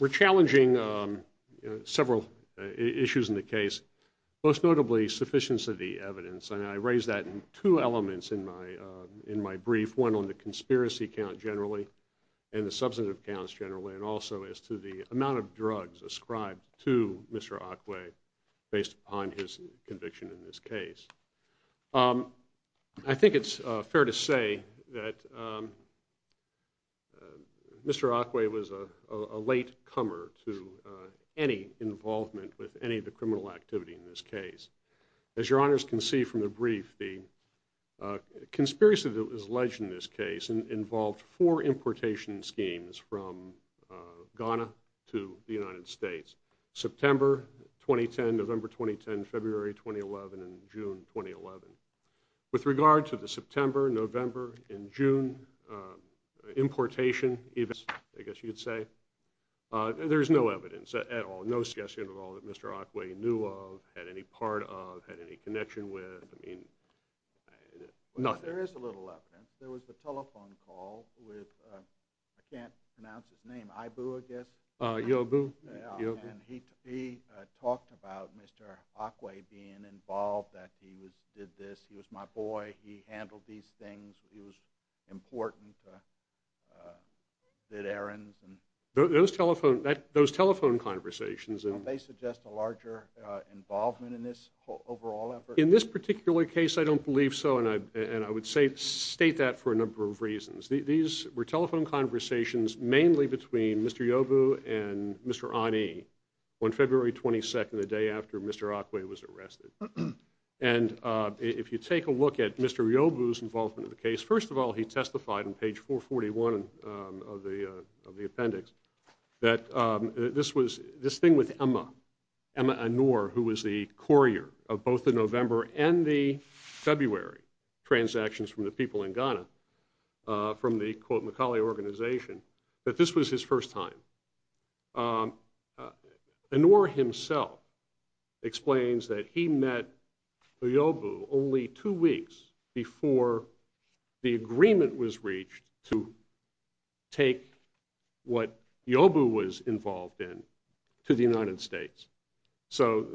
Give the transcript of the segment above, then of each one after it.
We're challenging several issues in the case, most notably sufficiency of the evidence, and I raise that in two elements in my brief, one on the conspiracy count generally, and the substantive counts generally, and also as to the amount of drugs ascribed to Mr. Akwei based upon his conviction in this case. I think it's fair to say that Mr. Akwei was a late comer to any involvement with any of the criminal activity in this case. As your knowledge, Mr. Akwei was involved in a number of importation schemes from Ghana to the United States, September 2010, November 2010, February 2011, and June 2011. With regard to the September, November, and June importation events, I guess you could say, there's no evidence at all, no suggestion at all that Mr. Akwei knew of, had any part of, had any connection with. There is a little evidence. There was a telephone call with, I can't pronounce his name, Aibu, I guess, and he talked about Mr. Akwei being involved, that he did this, he was my boy, he handled these things, he was important, did errands. Those telephone conversations. Don't they suggest a larger involvement in this overall effort? In this particular case, I don't believe so, and I would state that for a number of reasons. These were telephone conversations mainly between Mr. Aibu and Mr. Ani on February 22nd, the day after Mr. Akwei was arrested. And if you take a look at Mr. Aibu's involvement in the case, first of all, he testified on page 441 of the appendix, that this thing with Emma, Emma Anor, who was the courier of both the November and the February transactions from the people in Ghana, from the, quote, Macaulay organization, that this was his first time. Anor himself explains that he met Aibu only two weeks before the agreement was reached to take what Yobu was involved in to the United States. So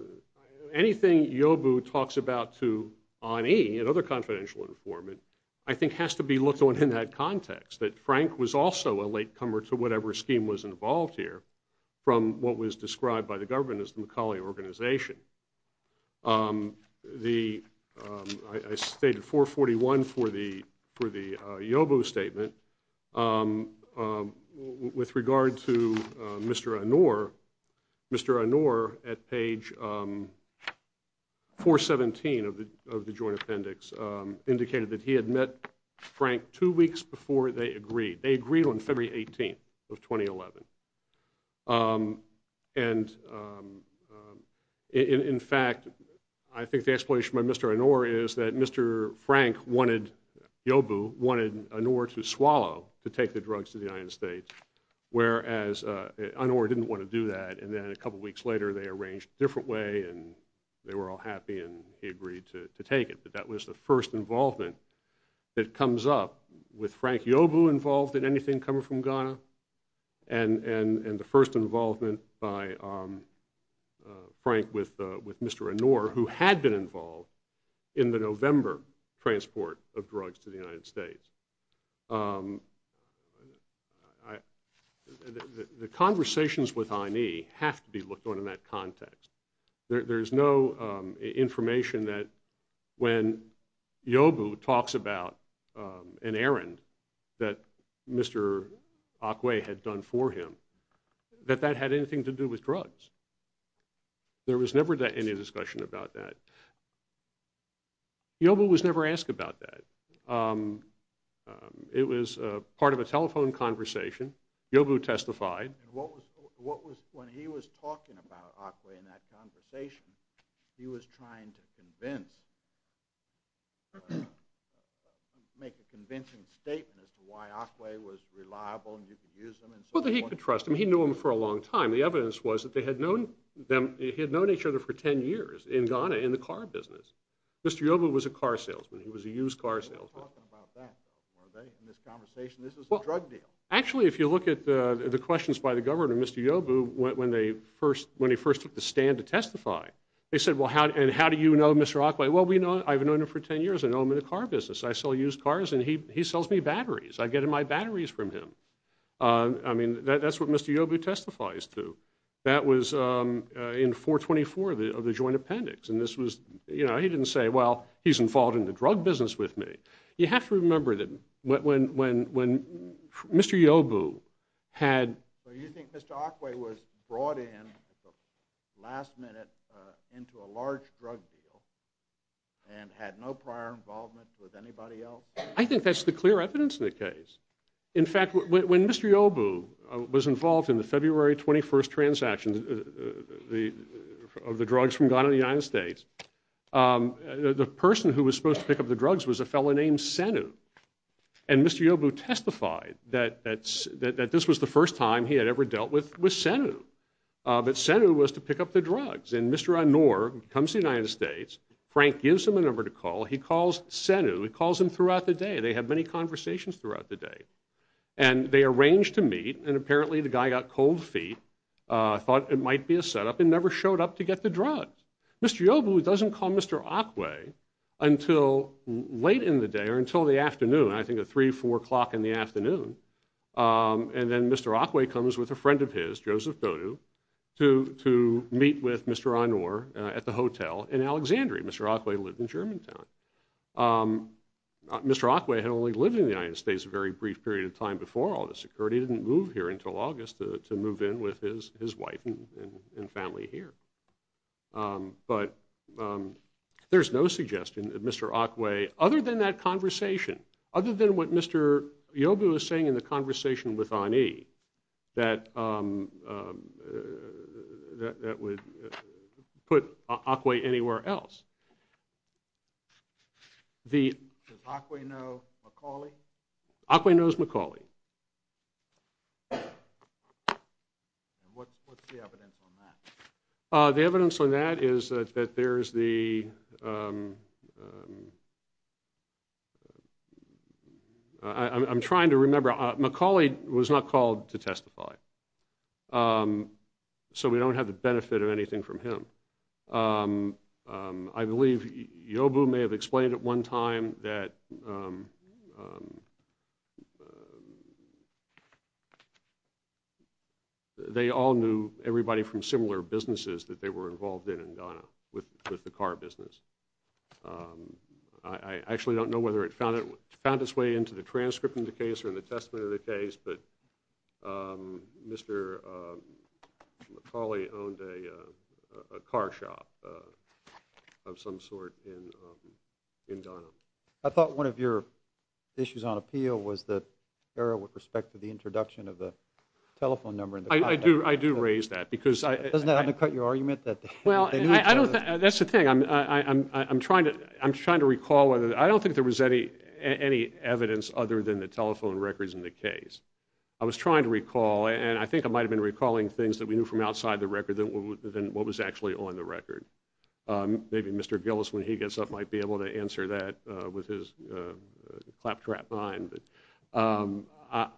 anything Yobu talks about to Ani, another confidential informant, I think has to be looked at in that context, that Frank was also a latecomer to whatever scheme was involved here from what was described by the government as the Macaulay organization. I stated 441 for the Yobu statement. With regard to Mr. Anor, Mr. Anor at page 417 of the joint appendix indicated that he had met Yobu on February 18th of 2011. And in fact, I think the explanation by Mr. Anor is that Mr. Frank wanted Yobu, wanted Anor to swallow, to take the drugs to the United States, whereas Anor didn't want to do that, and then a couple weeks later they arranged a different way and they were all happy and he agreed to take it. But that was the first involvement that a latecomer from Ghana and the first involvement by Frank with Mr. Anor, who had been involved in the November transport of drugs to the United States. The conversations with Ani have to be looked on in that context. There's no information that when Yobu talks about an errand that Mr. Akwe had done for him that that had anything to do with drugs. There was never any discussion about that. Yobu was never asked about that. It was part of a telephone conversation. Yobu testified. When he was talking about Akwe in that conversation, he was trying to convince, make a convincing statement as to why Akwe was reliable and you could use him. Well, he could trust him. He knew him for a long time. The evidence was that they had known each other for 10 years in Ghana in the car business. Mr. Yobu was a car salesman. He was a used car salesman. They weren't talking about that, were they, in this conversation? This was a drug deal. Actually, if you look at the questions by the governor, Mr. Yobu, when he first took the stand to testify, they said, well, how do you know Mr. Akwe? Well, I've known him for 10 years. I know him in the car business. I sell used cars and he sells me batteries. I get my batteries from him. That's what Mr. Yobu testifies to. That was in 424 of the joint appendix. He didn't say, well, he's involved in the drug business with me. You have to remember that when Mr. Yobu had... So you think Mr. Akwe was brought in at the last minute into a large drug deal and had no prior involvement with anybody else? I think that's the clear evidence in the case. In fact, when Mr. Yobu was involved in the February 21st transaction of the drugs from Ghana to the United States, the person who was supposed to pick up the drugs was a fellow named Senu. And Mr. Yobu testified that this was the first time he had ever dealt with Senu. But Senu was to pick up the drugs. And Mr. Anur comes to the United States. Frank gives him a number to call. He calls Senu. He calls him throughout the day. They have many conversations throughout the day. And they arrange to meet. And apparently, the guy got cold feet, thought it might be a setup and never showed up to get the drugs. Mr. Yobu doesn't call Mr. Akwe until late in the day or until the afternoon, I think at 3, 4 o'clock in the afternoon. And then Mr. Akwe comes with a friend of his, Joseph Dodu, to meet with Mr. Anur at the hotel in Alexandria. Mr. Akwe lived in Germantown. Mr. Akwe had only lived in the United States a very brief period of time before all this occurred. He didn't move here until August to move in with his wife and family here. But there's no suggestion that Mr. Akwe, other than that conversation, other than what Mr. Yobu was saying in the conversation with Ani, that would put Akwe anywhere else. Does Akwe know Macaulay? Akwe knows Macaulay. And what's the evidence on that? The evidence on that is that there's the... I'm trying to remember. Macaulay was not called to testify. So we don't have the benefit of anything from him. I believe Yobu may have explained at one time that they all knew everybody from similar businesses that they were involved in in Ghana with the car business. I actually don't know whether it found its way into the transcript of the case or in the testament of the case, but Mr. Macaulay owned a car shop of some sort in Ghana. I thought one of your issues on appeal was the error with respect to the introduction of the telephone number. I do raise that because... Doesn't that undercut your argument that... That's the thing. I'm trying to recall whether... I don't think there was any evidence other than the telephone records in the case. I was trying to recall, and I think I might have been recalling things that we knew from outside the record than what was actually on the record. Maybe Mr. Gillis, when he gets up, might be able to answer that with his claptrap mind. I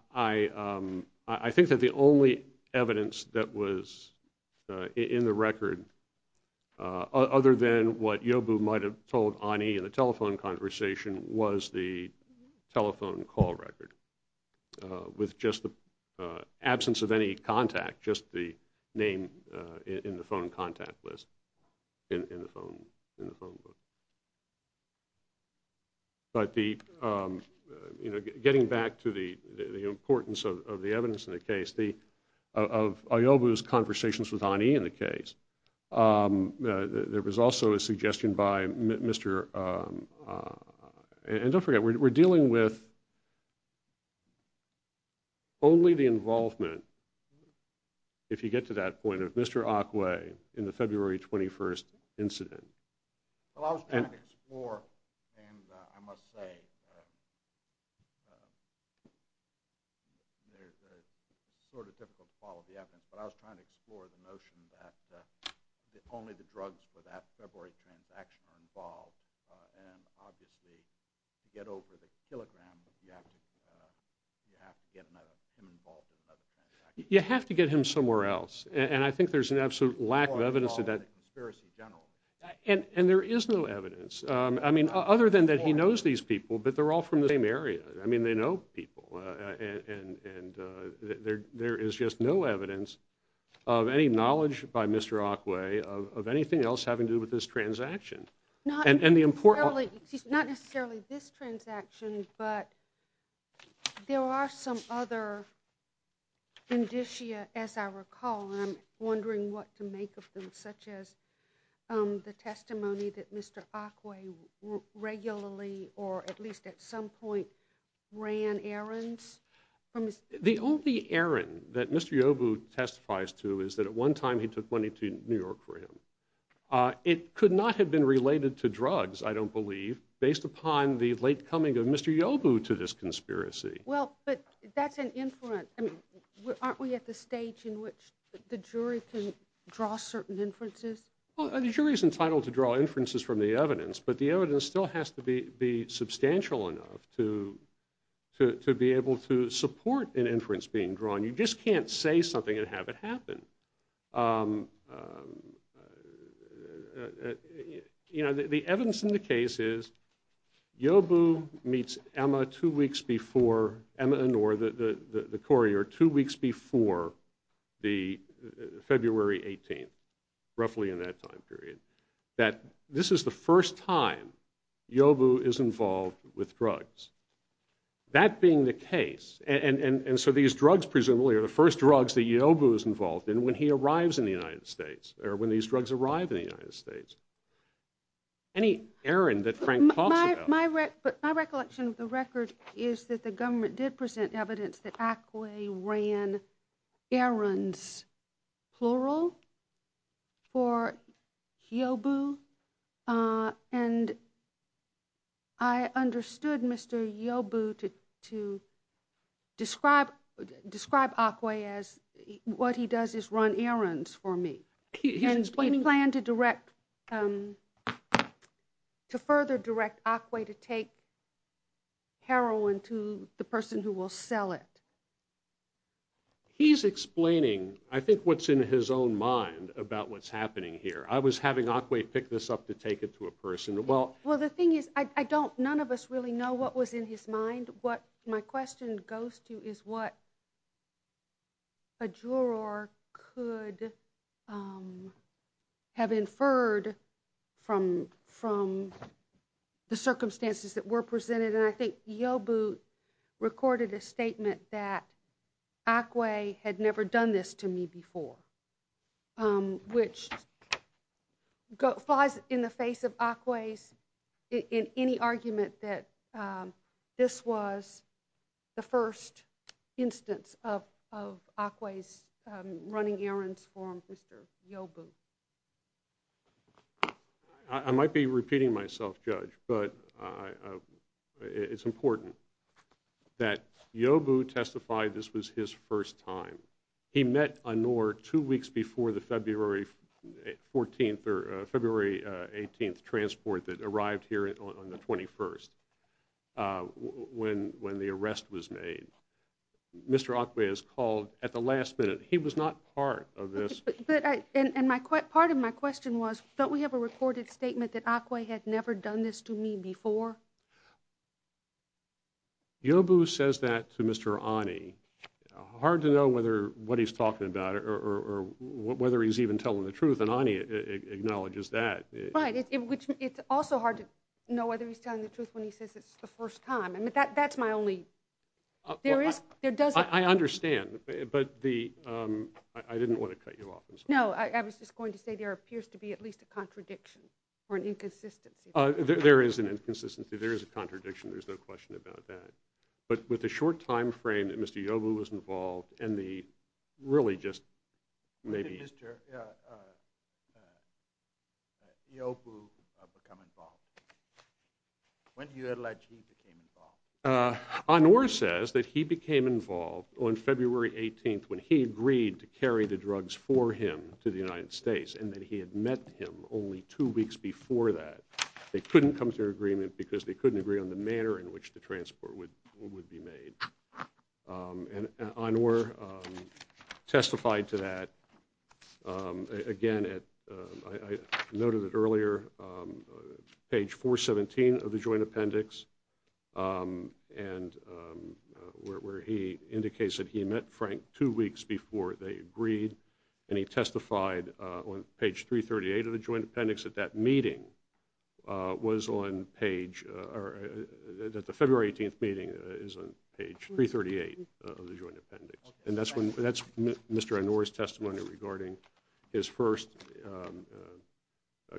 think that the only evidence that was in the record other than what Yobu might have told Ani in the telephone conversation was the telephone call record, with just the absence of any contact, just the name in the phone contact list in the phone book. But getting back to the importance of the evidence in the case, of Yobu's conversations with Ani in the case, there was also a suggestion by Mr.... And don't forget, we're dealing with only the involvement, if you get to that point, of Mr. Akwe in the February 21st incident. Well, I was trying to explore, and I must say, it's sort of difficult to follow the evidence, but I was trying to explore the notion that only the drugs for that February transaction are involved, and obviously, to get over the kilogram, you have to get him involved in another transaction. You have to get him somewhere else, and I think there's an absolute lack of evidence to that. And there is no evidence, I mean, other than that he knows these people, but they're all from the same area. I mean, they know people, and there is just no evidence of any knowledge by Mr. Akwe of anything else having to do with this transaction. Not necessarily this transaction, but there are some other indicia, as I recall, and I'm Mr. Akwe regularly, or at least at some point, ran errands. The only errand that Mr. Yobu testifies to is that at one time he took money to New York for him. It could not have been related to drugs, I don't believe, based upon the late coming of Mr. Yobu to this conspiracy. Well, but that's an inference. I mean, aren't we at the stage in which the jury can draw certain inferences? Well, the jury's entitled to draw inferences from the evidence, but the evidence still has to be substantial enough to be able to support an inference being drawn. You just can't say something and have it happen. You know, the evidence in the case is Yobu meets Emma two weeks before, Emma and Orr, the courier, two weeks before the February 18th, roughly in that time period, that this is the first time Yobu is involved with drugs. That being the case, and so these drugs presumably are the first drugs that Yobu is involved in when he arrives in the United States, or when these drugs arrive in the United States. Any errand that Frank talks about... My recollection of the record is that the government did present evidence that Ackway ran errands, plural, for Yobu, and I understood Mr. Yobu to describe Ackway as what he does is run errands for me. And he planned to direct, to further direct Ackway to take heroin to the person who will sell it. He's explaining, I think, what's in his own mind about what's happening here. I was having Ackway pick this up to take it to a person. Well, the thing is, I don't, none of us really know what was in his mind. And what my question goes to is what a juror could have inferred from the circumstances that were presented, and I think Yobu recorded a statement that Ackway had never done this to me before, which flies in the face of Ackway's, in any argument that this was the first instance of Ackway's running errands for Mr. Yobu. I might be repeating myself, Judge, but it's important that Yobu testified this was his first time. He met Anur two weeks before the February 14th or February 18th transport that arrived here on the 21st, when the arrest was made. Mr. Ackway is called at the last minute. He was not part of this. But, and part of my question was, don't we have a recorded statement that Ackway had never done this to me before? Yobu says that to Mr. Ani. Hard to know whether what he's talking about or whether he's even telling the truth, and Ani acknowledges that. Right. It's also hard to know whether he's telling the truth when he says it's the first time. I mean, that's my only, there is, there doesn't. I understand, but the, I didn't want to cut you off. No, I was just going to say there appears to be at least a contradiction or an inconsistency. There is an inconsistency. There is a contradiction. There's no question about that. But with the short time frame that Mr. Yobu was involved, and the really just maybe. When did Mr. Yobu become involved? When do you allege he became involved? Anwar says that he became involved on February 18th when he agreed to carry the drugs for him to the United States, and that he had met him only two weeks before that. They couldn't come to an agreement because they couldn't agree on the manner in which the transport would be made. And Anwar testified to that again at, I noted it earlier, page 417 of the joint appendix, and where he indicates that he met Frank two weeks before they agreed, and he testified on page 338 of the joint appendix at that meeting, was on page, that the February 18th meeting is on page 338 of the joint appendix. And that's Mr. Anwar's testimony regarding his first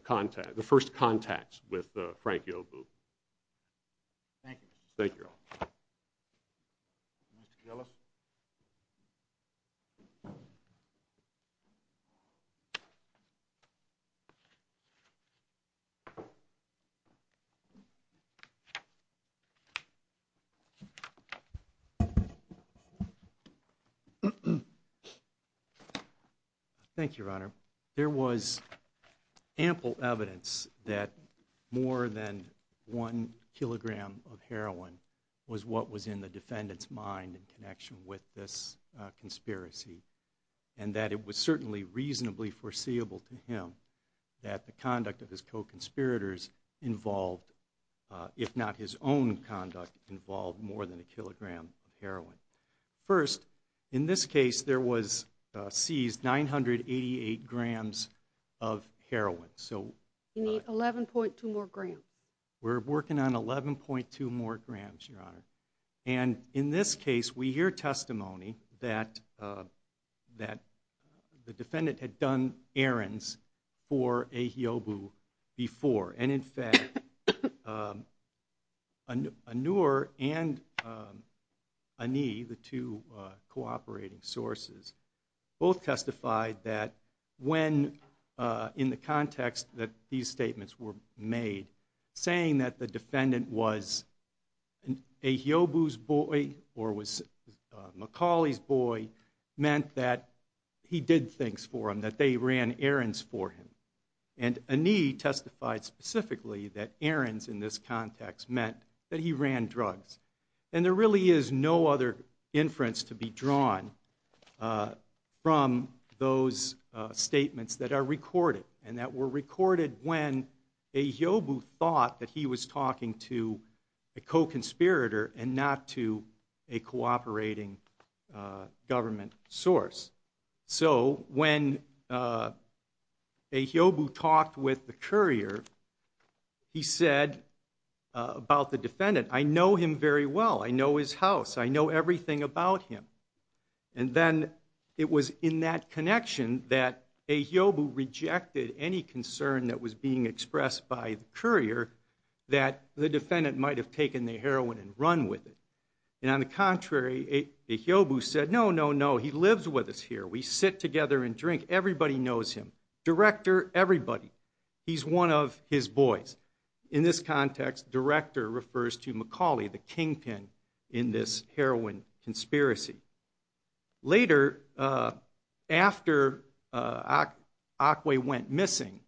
contact, the first contacts with Frank Yobu. Thank you all. Mr. Gillis? Thank you, Your Honor. There was ample evidence that more than one kilogram of heroin was what was in the defendant's mind in connection with this conspiracy, and that it was certainly reasonably foreseeable to him that the conduct of his co-conspirators involved, if not his own conduct, involved more than a kilogram of heroin. First, in this case, there was seized 988 grams of heroin. You need 11.2 more grams. We're working on 11.2 more grams, Your Honor. And in this case, we hear testimony that the defendant had done errands for a Yobu before. And in fact, Anur and Ani, the two cooperating sources, both testified that when, in the case, it was a Yobu's boy or it was Macaulay's boy, meant that he did things for him, that they ran errands for him. And Ani testified specifically that errands in this context meant that he ran drugs. And there really is no other inference to be drawn from those statements that are recorded and that were recorded when a Yobu thought that he was talking to a co-conspirator and not to a cooperating government source. So when a Yobu talked with the courier, he said about the defendant, I know him very well. I know his house. I know everything about him. And then it was in that connection that a Yobu rejected any concern that was being expressed by the courier that the defendant might have taken the heroin and run with it. And on the contrary, a Yobu said, no, no, no. He lives with us here. We sit together and drink. Everybody knows him. Director, everybody. He's one of his boys. In this context, director refers to Macaulay, the kingpin in this heroin conspiracy. Later, after Akwe went missing,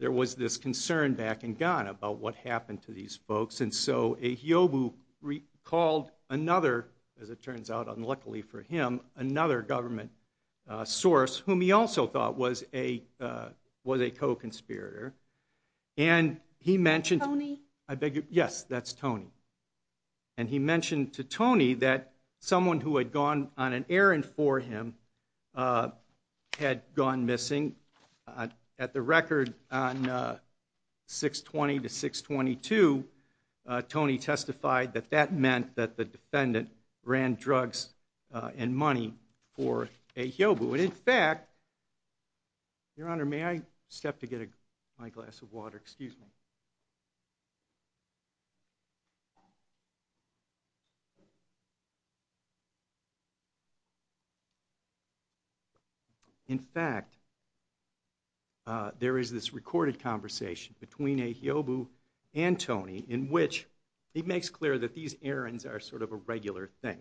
there was this concern back in Ghana about what happened to these folks. And so a Yobu recalled another, as it turns out, unluckily for him, another government source whom he also thought was a co-conspirator. And he mentioned... Tony? I beg your... Yes, that's Tony. And he mentioned to Tony that someone who had gone on an errand for him had gone missing. At the record on 620 to 622, Tony testified that that meant that the defendant ran drugs and money for a Yobu. And in fact... Your Honor, may I step to get my glass of water? Excuse me. In fact, there is this recorded conversation between a Yobu and Tony in which he makes clear that these errands are sort of a regular thing.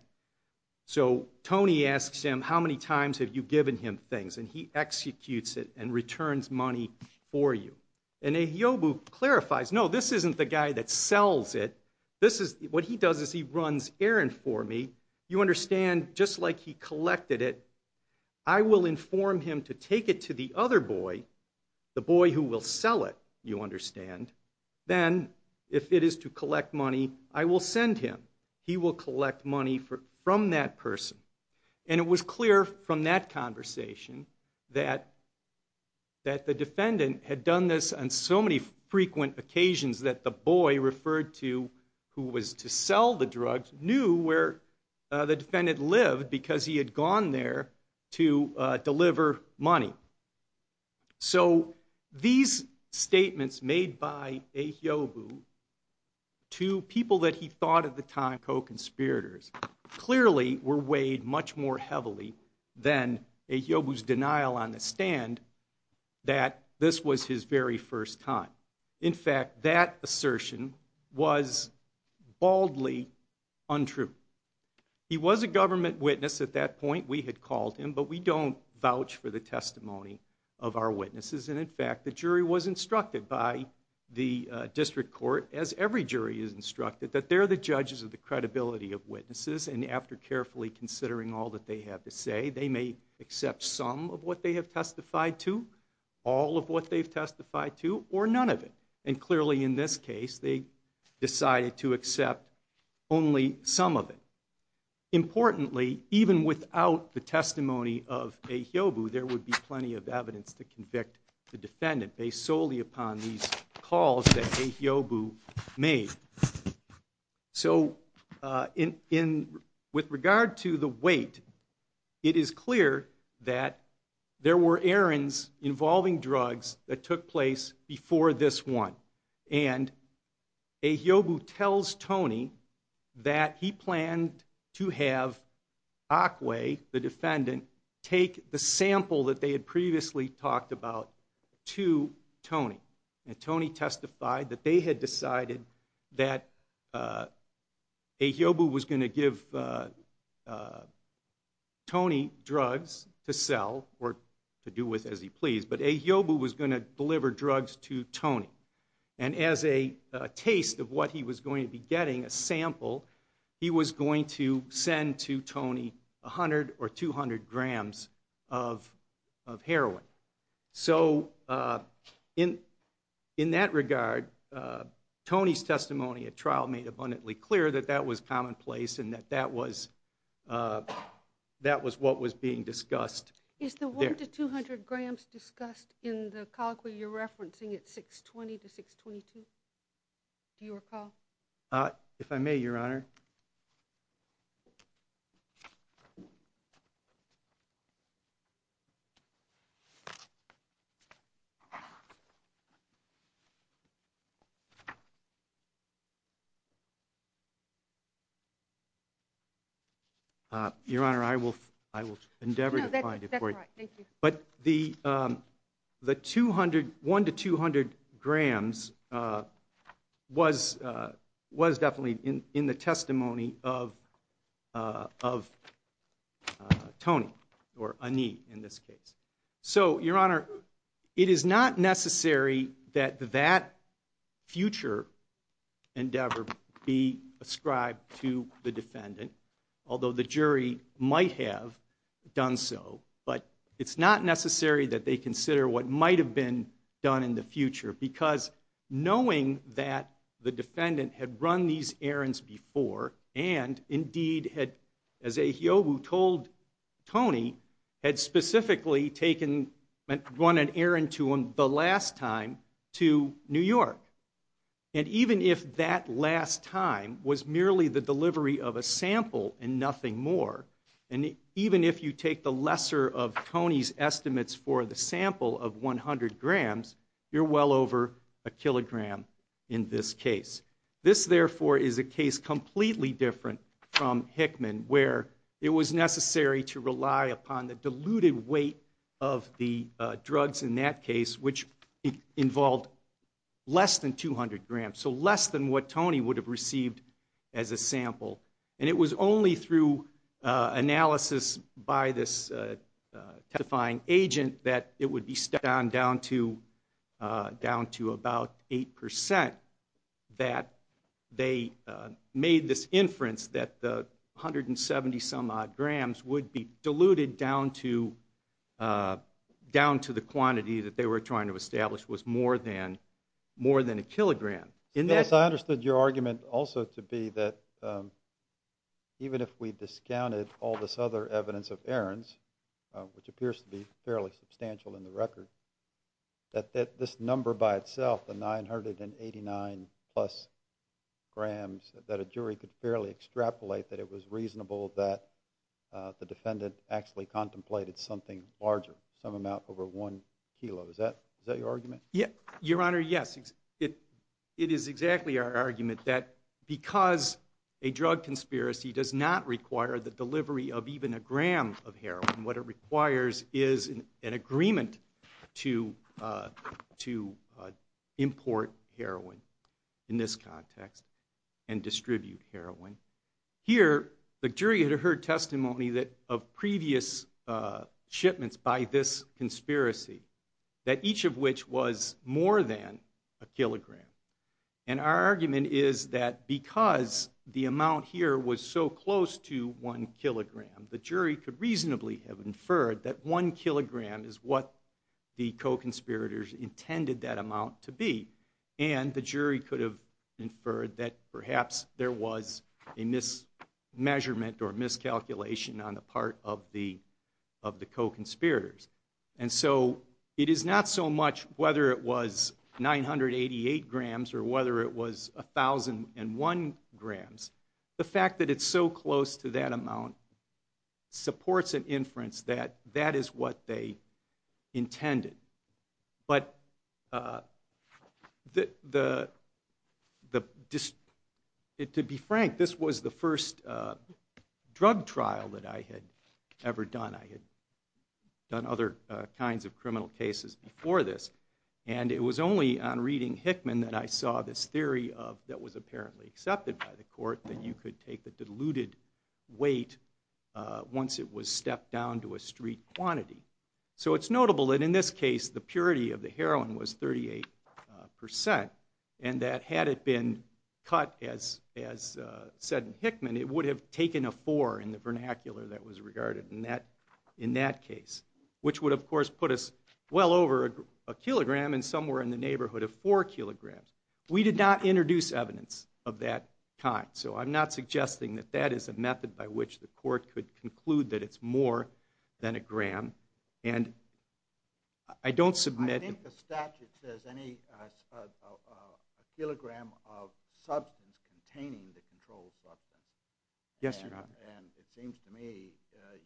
So Tony asks him, how many times have you given him things? And he executes it and returns money for you. And a Yobu clarifies, no, this isn't the guy that sells it. This is... What he does is he runs errand for me. You understand, just like he collected it, I will inform him to take it to the other boy, the boy who will sell it, you understand. Then if it is to collect money, I will send him. He will collect money from that person. And it was clear from that conversation that the defendant had done this on so many frequent occasions that the boy referred to who was to sell the drugs knew where the defendant lived because he had gone there to deliver money. So these statements made by a Yobu to people that he thought at the time co-conspirators clearly were weighed much more heavily than a Yobu's denial on the stand that this was his very first time. In fact, that assertion was baldly untrue. He was a government witness at that point. We had called him, but we don't vouch for the testimony of our witnesses. And in fact, the jury was instructed by the district court, as every jury is instructed, that they're the judges of the credibility of witnesses. And after carefully considering all that they have to say, they may accept some of what they have testified to, all of what they've testified to, or none of it. And clearly in this case, they decided to accept only some of it. Importantly, even without the testimony of a Yobu, there would be plenty of evidence to convict the defendant based solely upon these calls that a Yobu made. So with regard to the weight, it is clear that there were errands involving drugs that took place before this one. And a Yobu tells Tony that he planned to have Akwe, the defendant, take the sample that they had previously talked about to Tony. And Tony testified that they had decided that a Yobu was going to give Tony drugs to sell, or to do with as he pleased, but a Yobu was going to deliver drugs to Tony. And as a taste of what he was going to be getting, a sample, he was going to send to Tony 100 or 200 grams of heroin. So in that regard, Tony's testimony at trial made abundantly clear that that was commonplace and that that was what was being discussed. Is the 100 to 200 grams discussed in the colloquy you're referencing at 620 to 622? Do you recall? If I may, Your Honor. Your Honor, I will endeavor to find it for you. No, that's all right. Thank you. But the 100 to 200 grams was definitely in the testimony of Tony, or Ani, in this case. So, Your Honor, it is not necessary that that future endeavor be ascribed to the defendant, although the jury might have done so. But it's not necessary that they consider what might have been done in the future, because knowing that the defendant had run these errands before, and indeed had, as a Yobu told Tony, had specifically run an errand to him the last time to New York. And even if that last time was merely the delivery of a sample and nothing more, and even if you take the lesser of Tony's estimates for the sample of 100 grams, you're well over a kilogram in this case. This, therefore, is a case completely different from Hickman, where it was necessary to rely upon the diluted weight of the drugs in that case, which involved less than 200 grams, so less than what Tony would have received as a sample. And it was only through analysis by this testifying agent that it would be stepped on down to about 8% that they made this inference that the 170-some-odd grams would be diluted down to the quantity that they were trying to establish was more than a kilogram. Yes, I understood your argument also to be that even if we discounted all this other evidence of errands, which appears to be fairly substantial in the record, that this number by itself, the 989-plus grams, that a jury could fairly extrapolate that it was reasonable that the defendant actually contemplated something larger, some amount over one kilo. Is that your argument? Your Honor, yes. It is exactly our argument that because a drug conspiracy does not require the delivery of even a gram of heroin, what it requires is an agreement to import heroin in this context and distribute heroin. Here, the jury had heard testimony of previous shipments by this conspiracy, that each of which was more than a kilogram. And our argument is that because the amount here was so close to one kilogram, the jury could reasonably have inferred that one kilogram is what the co-conspirators intended that amount to be. And the jury could have inferred that perhaps there was a mismeasurement or miscalculation on the part of the co-conspirators. And so it is not so much whether it was 988 grams or whether it was 1,001 grams. The fact that it's so close to that amount supports an inference that that is what they intended. But to be frank, this was the first drug trial that I had ever done. I had done other kinds of criminal cases before this. And it was only on reading Hickman that I saw this theory that was apparently accepted by the court, that you could take the diluted weight once it was stepped down to a street quantity. So it's notable that in this case the purity of the heroin was 38%, and that had it been cut, as said in Hickman, it would have taken a four in the vernacular that was regarded in that case, which would, of course, put us well over a kilogram and somewhere in the neighborhood of four kilograms. We did not introduce evidence of that kind, so I'm not suggesting that that is a method by which the court could conclude that it's more than a gram. And I don't submit... I think the statute says a kilogram of substance containing the controlled substance. Yes, Your Honor. And it seems to me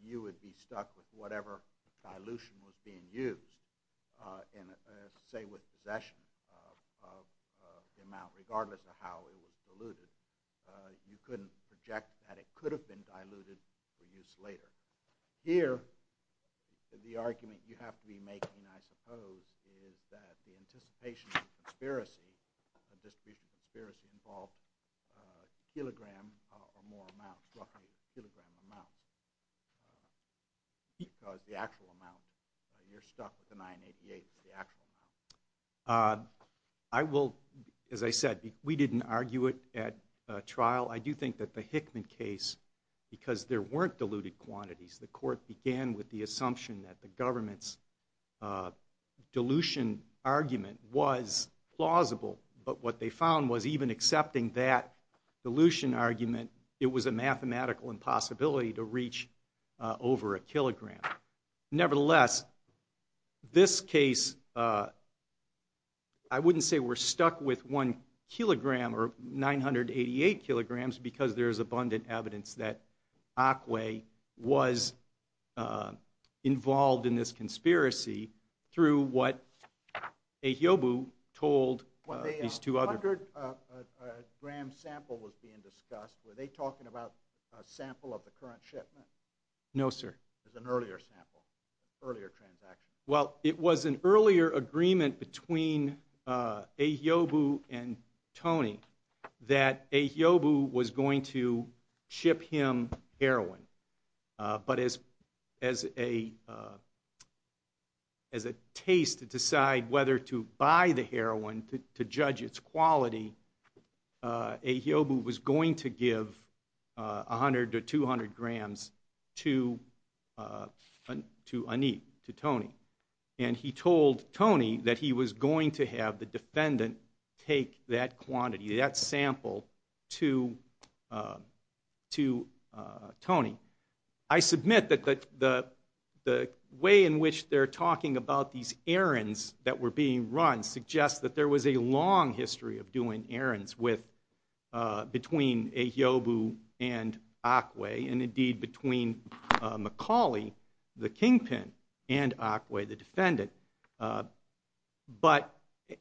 you would be stuck with whatever dilution was being used, say, with possession of the amount, regardless of how it was diluted. You couldn't project that it could have been diluted for use later. Here, the argument you have to be making, I suppose, is that the anticipation of conspiracy, a distribution of conspiracy, involved a kilogram or more amount, roughly a kilogram amount, because the actual amount, you're stuck with the 988, the actual amount. I will, as I said, we didn't argue it at trial. I do think that the Hickman case, because there weren't diluted quantities, the court began with the assumption that the government's dilution argument was plausible, but what they found was even accepting that dilution argument, it was a mathematical impossibility to reach over a kilogram. Nevertheless, this case, I wouldn't say we're stuck with one kilogram or 988 kilograms because there is abundant evidence that Akwe was involved in this conspiracy through what Ehiobu told these two other... I heard a gram sample was being discussed. Were they talking about a sample of the current shipment? No, sir. It was an earlier sample, earlier transaction. Well, it was an earlier agreement between Ehiobu and Tony that Ehiobu was going to ship him heroin, but as a taste to decide whether to buy the heroin to judge its quality, Ehiobu was going to give 100 to 200 grams to Anit, to Tony, and he told Tony that he was going to have the defendant take that quantity, that sample, to Tony. I submit that the way in which they're talking about these errands that were being run suggests that there was a long history of doing errands between Ehiobu and Akwe, and indeed between Macaulay, the kingpin, and Akwe, the defendant. But,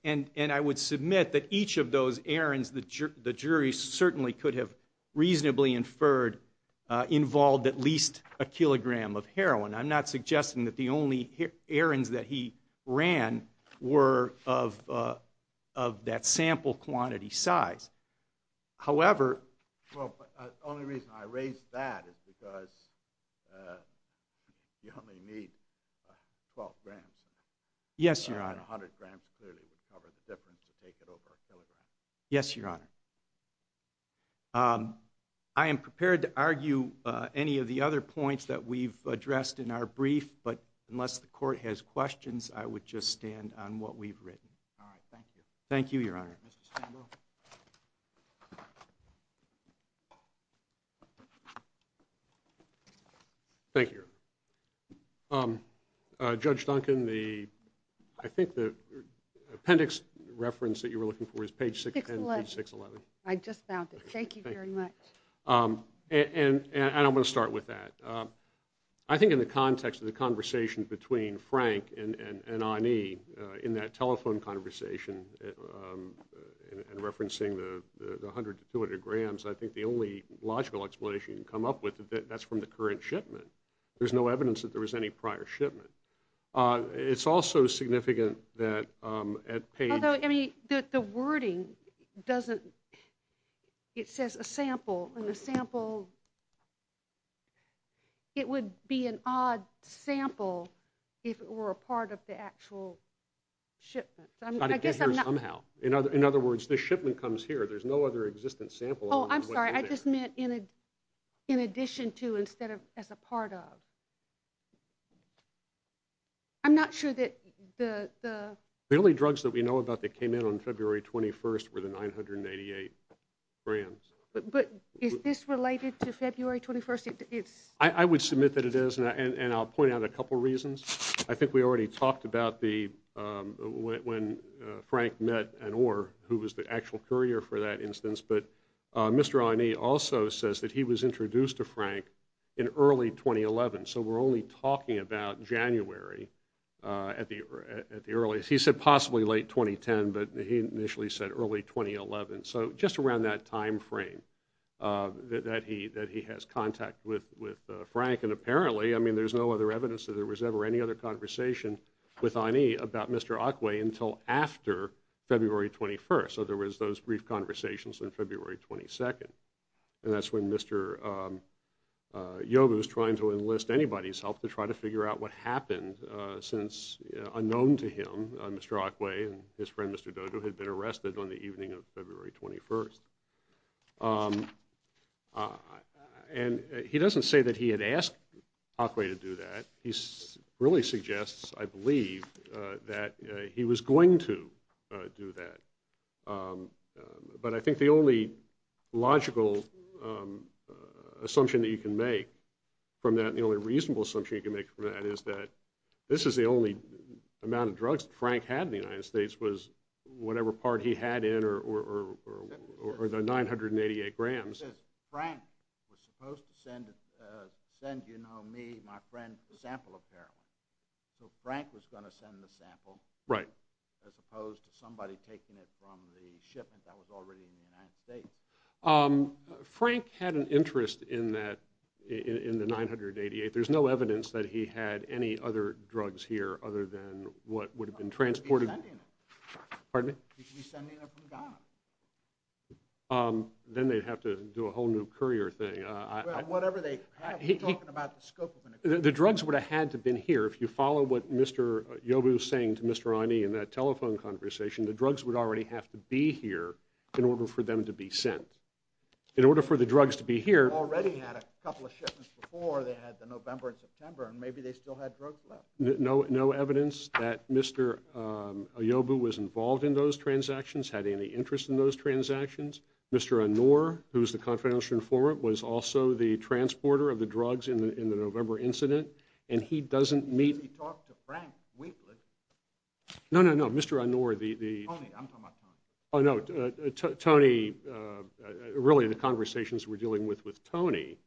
and I would submit that each of those errands the jury certainly could have reasonably inferred involved at least a kilogram of heroin. I'm not suggesting that the only errands that he ran were of that sample quantity size. However... Well, the only reason I raise that is because you only need 12 grams. Yes, Your Honor. And 100 grams clearly would cover the difference to take it over a kilogram. Yes, Your Honor. I am prepared to argue any of the other points that we've addressed in our brief, but unless the court has questions, I would just stand on what we've written. All right, thank you. Thank you, Your Honor. Mr. Stanglow. Thank you, Your Honor. Judge Duncan, I think the appendix reference that you were looking for is page 610 and page 611. I just found it. Thank you very much. And I'm going to start with that. I think in the context of the conversation between Frank and Ani, in that telephone conversation, in referencing the 100 to 200 grams, I think the only logical explanation you can come up with is that that's from the current shipment. There's no evidence that there was any prior shipment. It's also significant that at page... Although, I mean, the wording doesn't, it says a sample, and the sample, it would be an odd sample if it were a part of the actual shipment. I guess I'm not... It's got to get here somehow. In other words, the shipment comes here. There's no other existent sample. Oh, I'm sorry. I just meant in addition to instead of as a part of. I'm not sure that the... The only drugs that we know about that came in on February 21st were the 988 grams. But is this related to February 21st? I would submit that it is, and I'll point out a couple reasons. I think we already talked about when Frank met Anor, who was the actual courier for that instance. But Mr. Aini also says that he was introduced to Frank in early 2011. So we're only talking about January at the earliest. He said possibly late 2010, but he initially said early 2011. So just around that time frame that he has contact with Frank. And apparently, I mean, there's no other evidence that there was ever any other conversation with Aini about Mr. Akwe until after February 21st. So there was those brief conversations on February 22nd. And that's when Mr. Yogo was trying to enlist anybody's help to try to figure out what happened since unknown to him, Mr. Akwe and his friend Mr. Dodo had been arrested on the evening of February 21st. And he doesn't say that he had asked Akwe to do that. He really suggests, I believe, that he was going to do that. But I think the only logical assumption that you can make from that and the only reasonable assumption you can make from that is that this is the only amount of drugs that Frank had in the United States was whatever part he had in or the 988 grams. Frank was supposed to send, you know, me, my friend, a sample of heroin. So Frank was going to send the sample as opposed to somebody taking it from the shipment that was already in the United States. Frank had an interest in the 988. There's no evidence that he had any other drugs here other than what would have been transported. He should be sending it. Pardon me? He should be sending it from Ghana. Then they'd have to do a whole new courier thing. Well, whatever they have, we're talking about the scope of an agreement. The drugs would have had to have been here. If you follow what Mr. Ayobu was saying to Mr. Ani in that telephone conversation, the drugs would already have to be here in order for them to be sent. In order for the drugs to be here. They already had a couple of shipments before. They had the November and September, and maybe they still had drugs left. No evidence that Mr. Ayobu was involved in those transactions, had any interest in those transactions. Mr. Anor, who's the confidential informant, was also the transporter of the drugs in the November incident, and he doesn't meet. He talked to Frank Winkler. No, no, no. Mr. Anor, the... Tony. I'm talking about Tony. Oh, no. Tony... Really, the conversations we're dealing with with Tony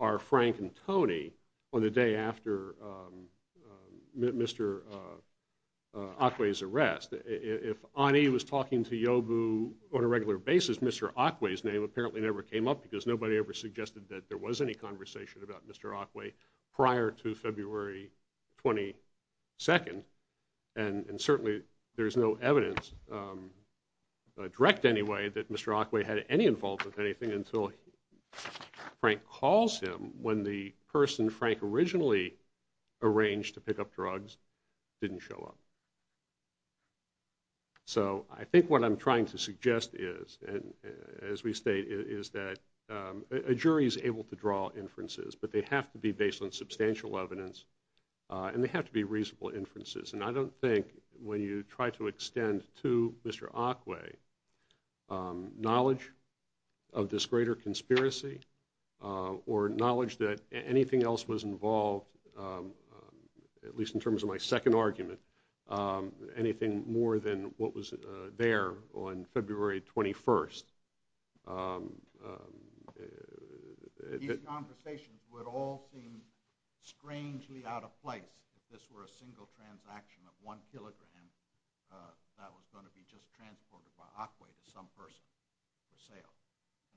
are Frank and Tony on the day after Mr. Akwe's arrest. If Ani was talking to Ayobu on a regular basis, Mr. Akwe's name apparently never came up because nobody ever suggested that there was any conversation about Mr. Akwe prior to February 22nd. And certainly there's no evidence, direct anyway, that Mr. Akwe had any involvement with anything until Frank calls him when the person Frank originally arranged to pick up drugs didn't show up. So I think what I'm trying to suggest is, as we state, is that a jury is able to draw inferences, but they have to be based on substantial evidence and they have to be reasonable inferences. And I don't think when you try to extend to Mr. Akwe knowledge of this greater that anything else was involved, at least in terms of my second argument, anything more than what was there on February 21st... These conversations would all seem strangely out of place if this were a single transaction of one kilogram that was going to be just transported by Akwe to some person for sale.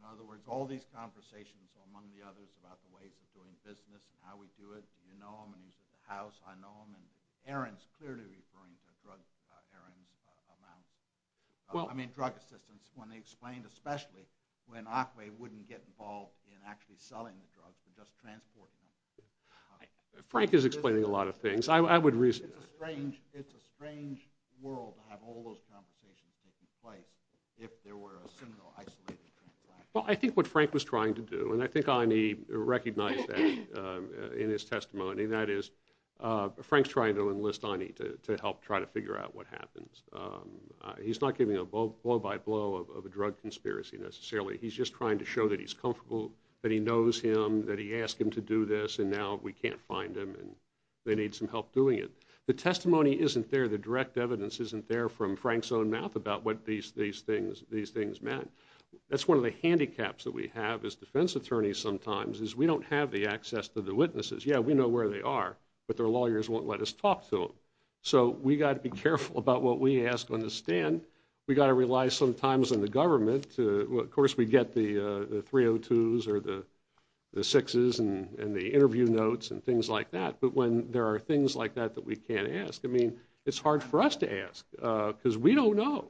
In other words, all these conversations, among the others, about the ways of doing business and how we do it, do you know him and he's at the house, I know him, and Aaron's clearly referring to drug errands amounts. I mean, drug assistance, when they explained, especially when Akwe wouldn't get involved in actually selling the drugs but just transporting them. Frank is explaining a lot of things. It's a strange world to have all those conversations taking place if there were a single isolated transaction. Well, I think what Frank was trying to do, and I think Ani recognized that in his testimony, that is, Frank's trying to enlist Ani to help try to figure out what happens. He's not giving a blow-by-blow of a drug conspiracy necessarily. He's just trying to show that he's comfortable, that he knows him, that he asked him to do this and now we can't find him and they need some help doing it. The testimony isn't there, the direct evidence isn't there, it's all from Frank's own mouth about what these things meant. That's one of the handicaps that we have as defense attorneys sometimes is we don't have the access to the witnesses. Yeah, we know where they are, but their lawyers won't let us talk to them. So we've got to be careful about what we ask on the stand. We've got to rely sometimes on the government. Of course, we get the 302s or the 6s and the interview notes and things like that, but when there are things like that that we can't ask, I mean, it's hard for us to ask because we don't know,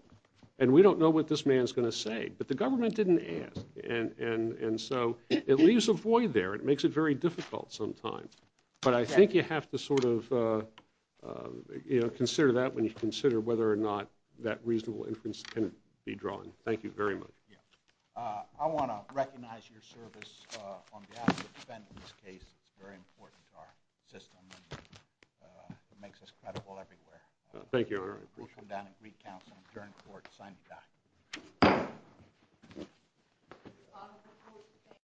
and we don't know what this man is going to say. But the government didn't ask, and so it leaves a void there. It makes it very difficult sometimes. But I think you have to sort of consider that when you consider whether or not that reasonable inference can be drawn. Thank you very much. I want to recognize your service on behalf of the defendant in this case. It's very important to our system. It makes us credible everywhere. Thank you. I appreciate it. We'll come down and greet counsel and adjourn the court. Signing off.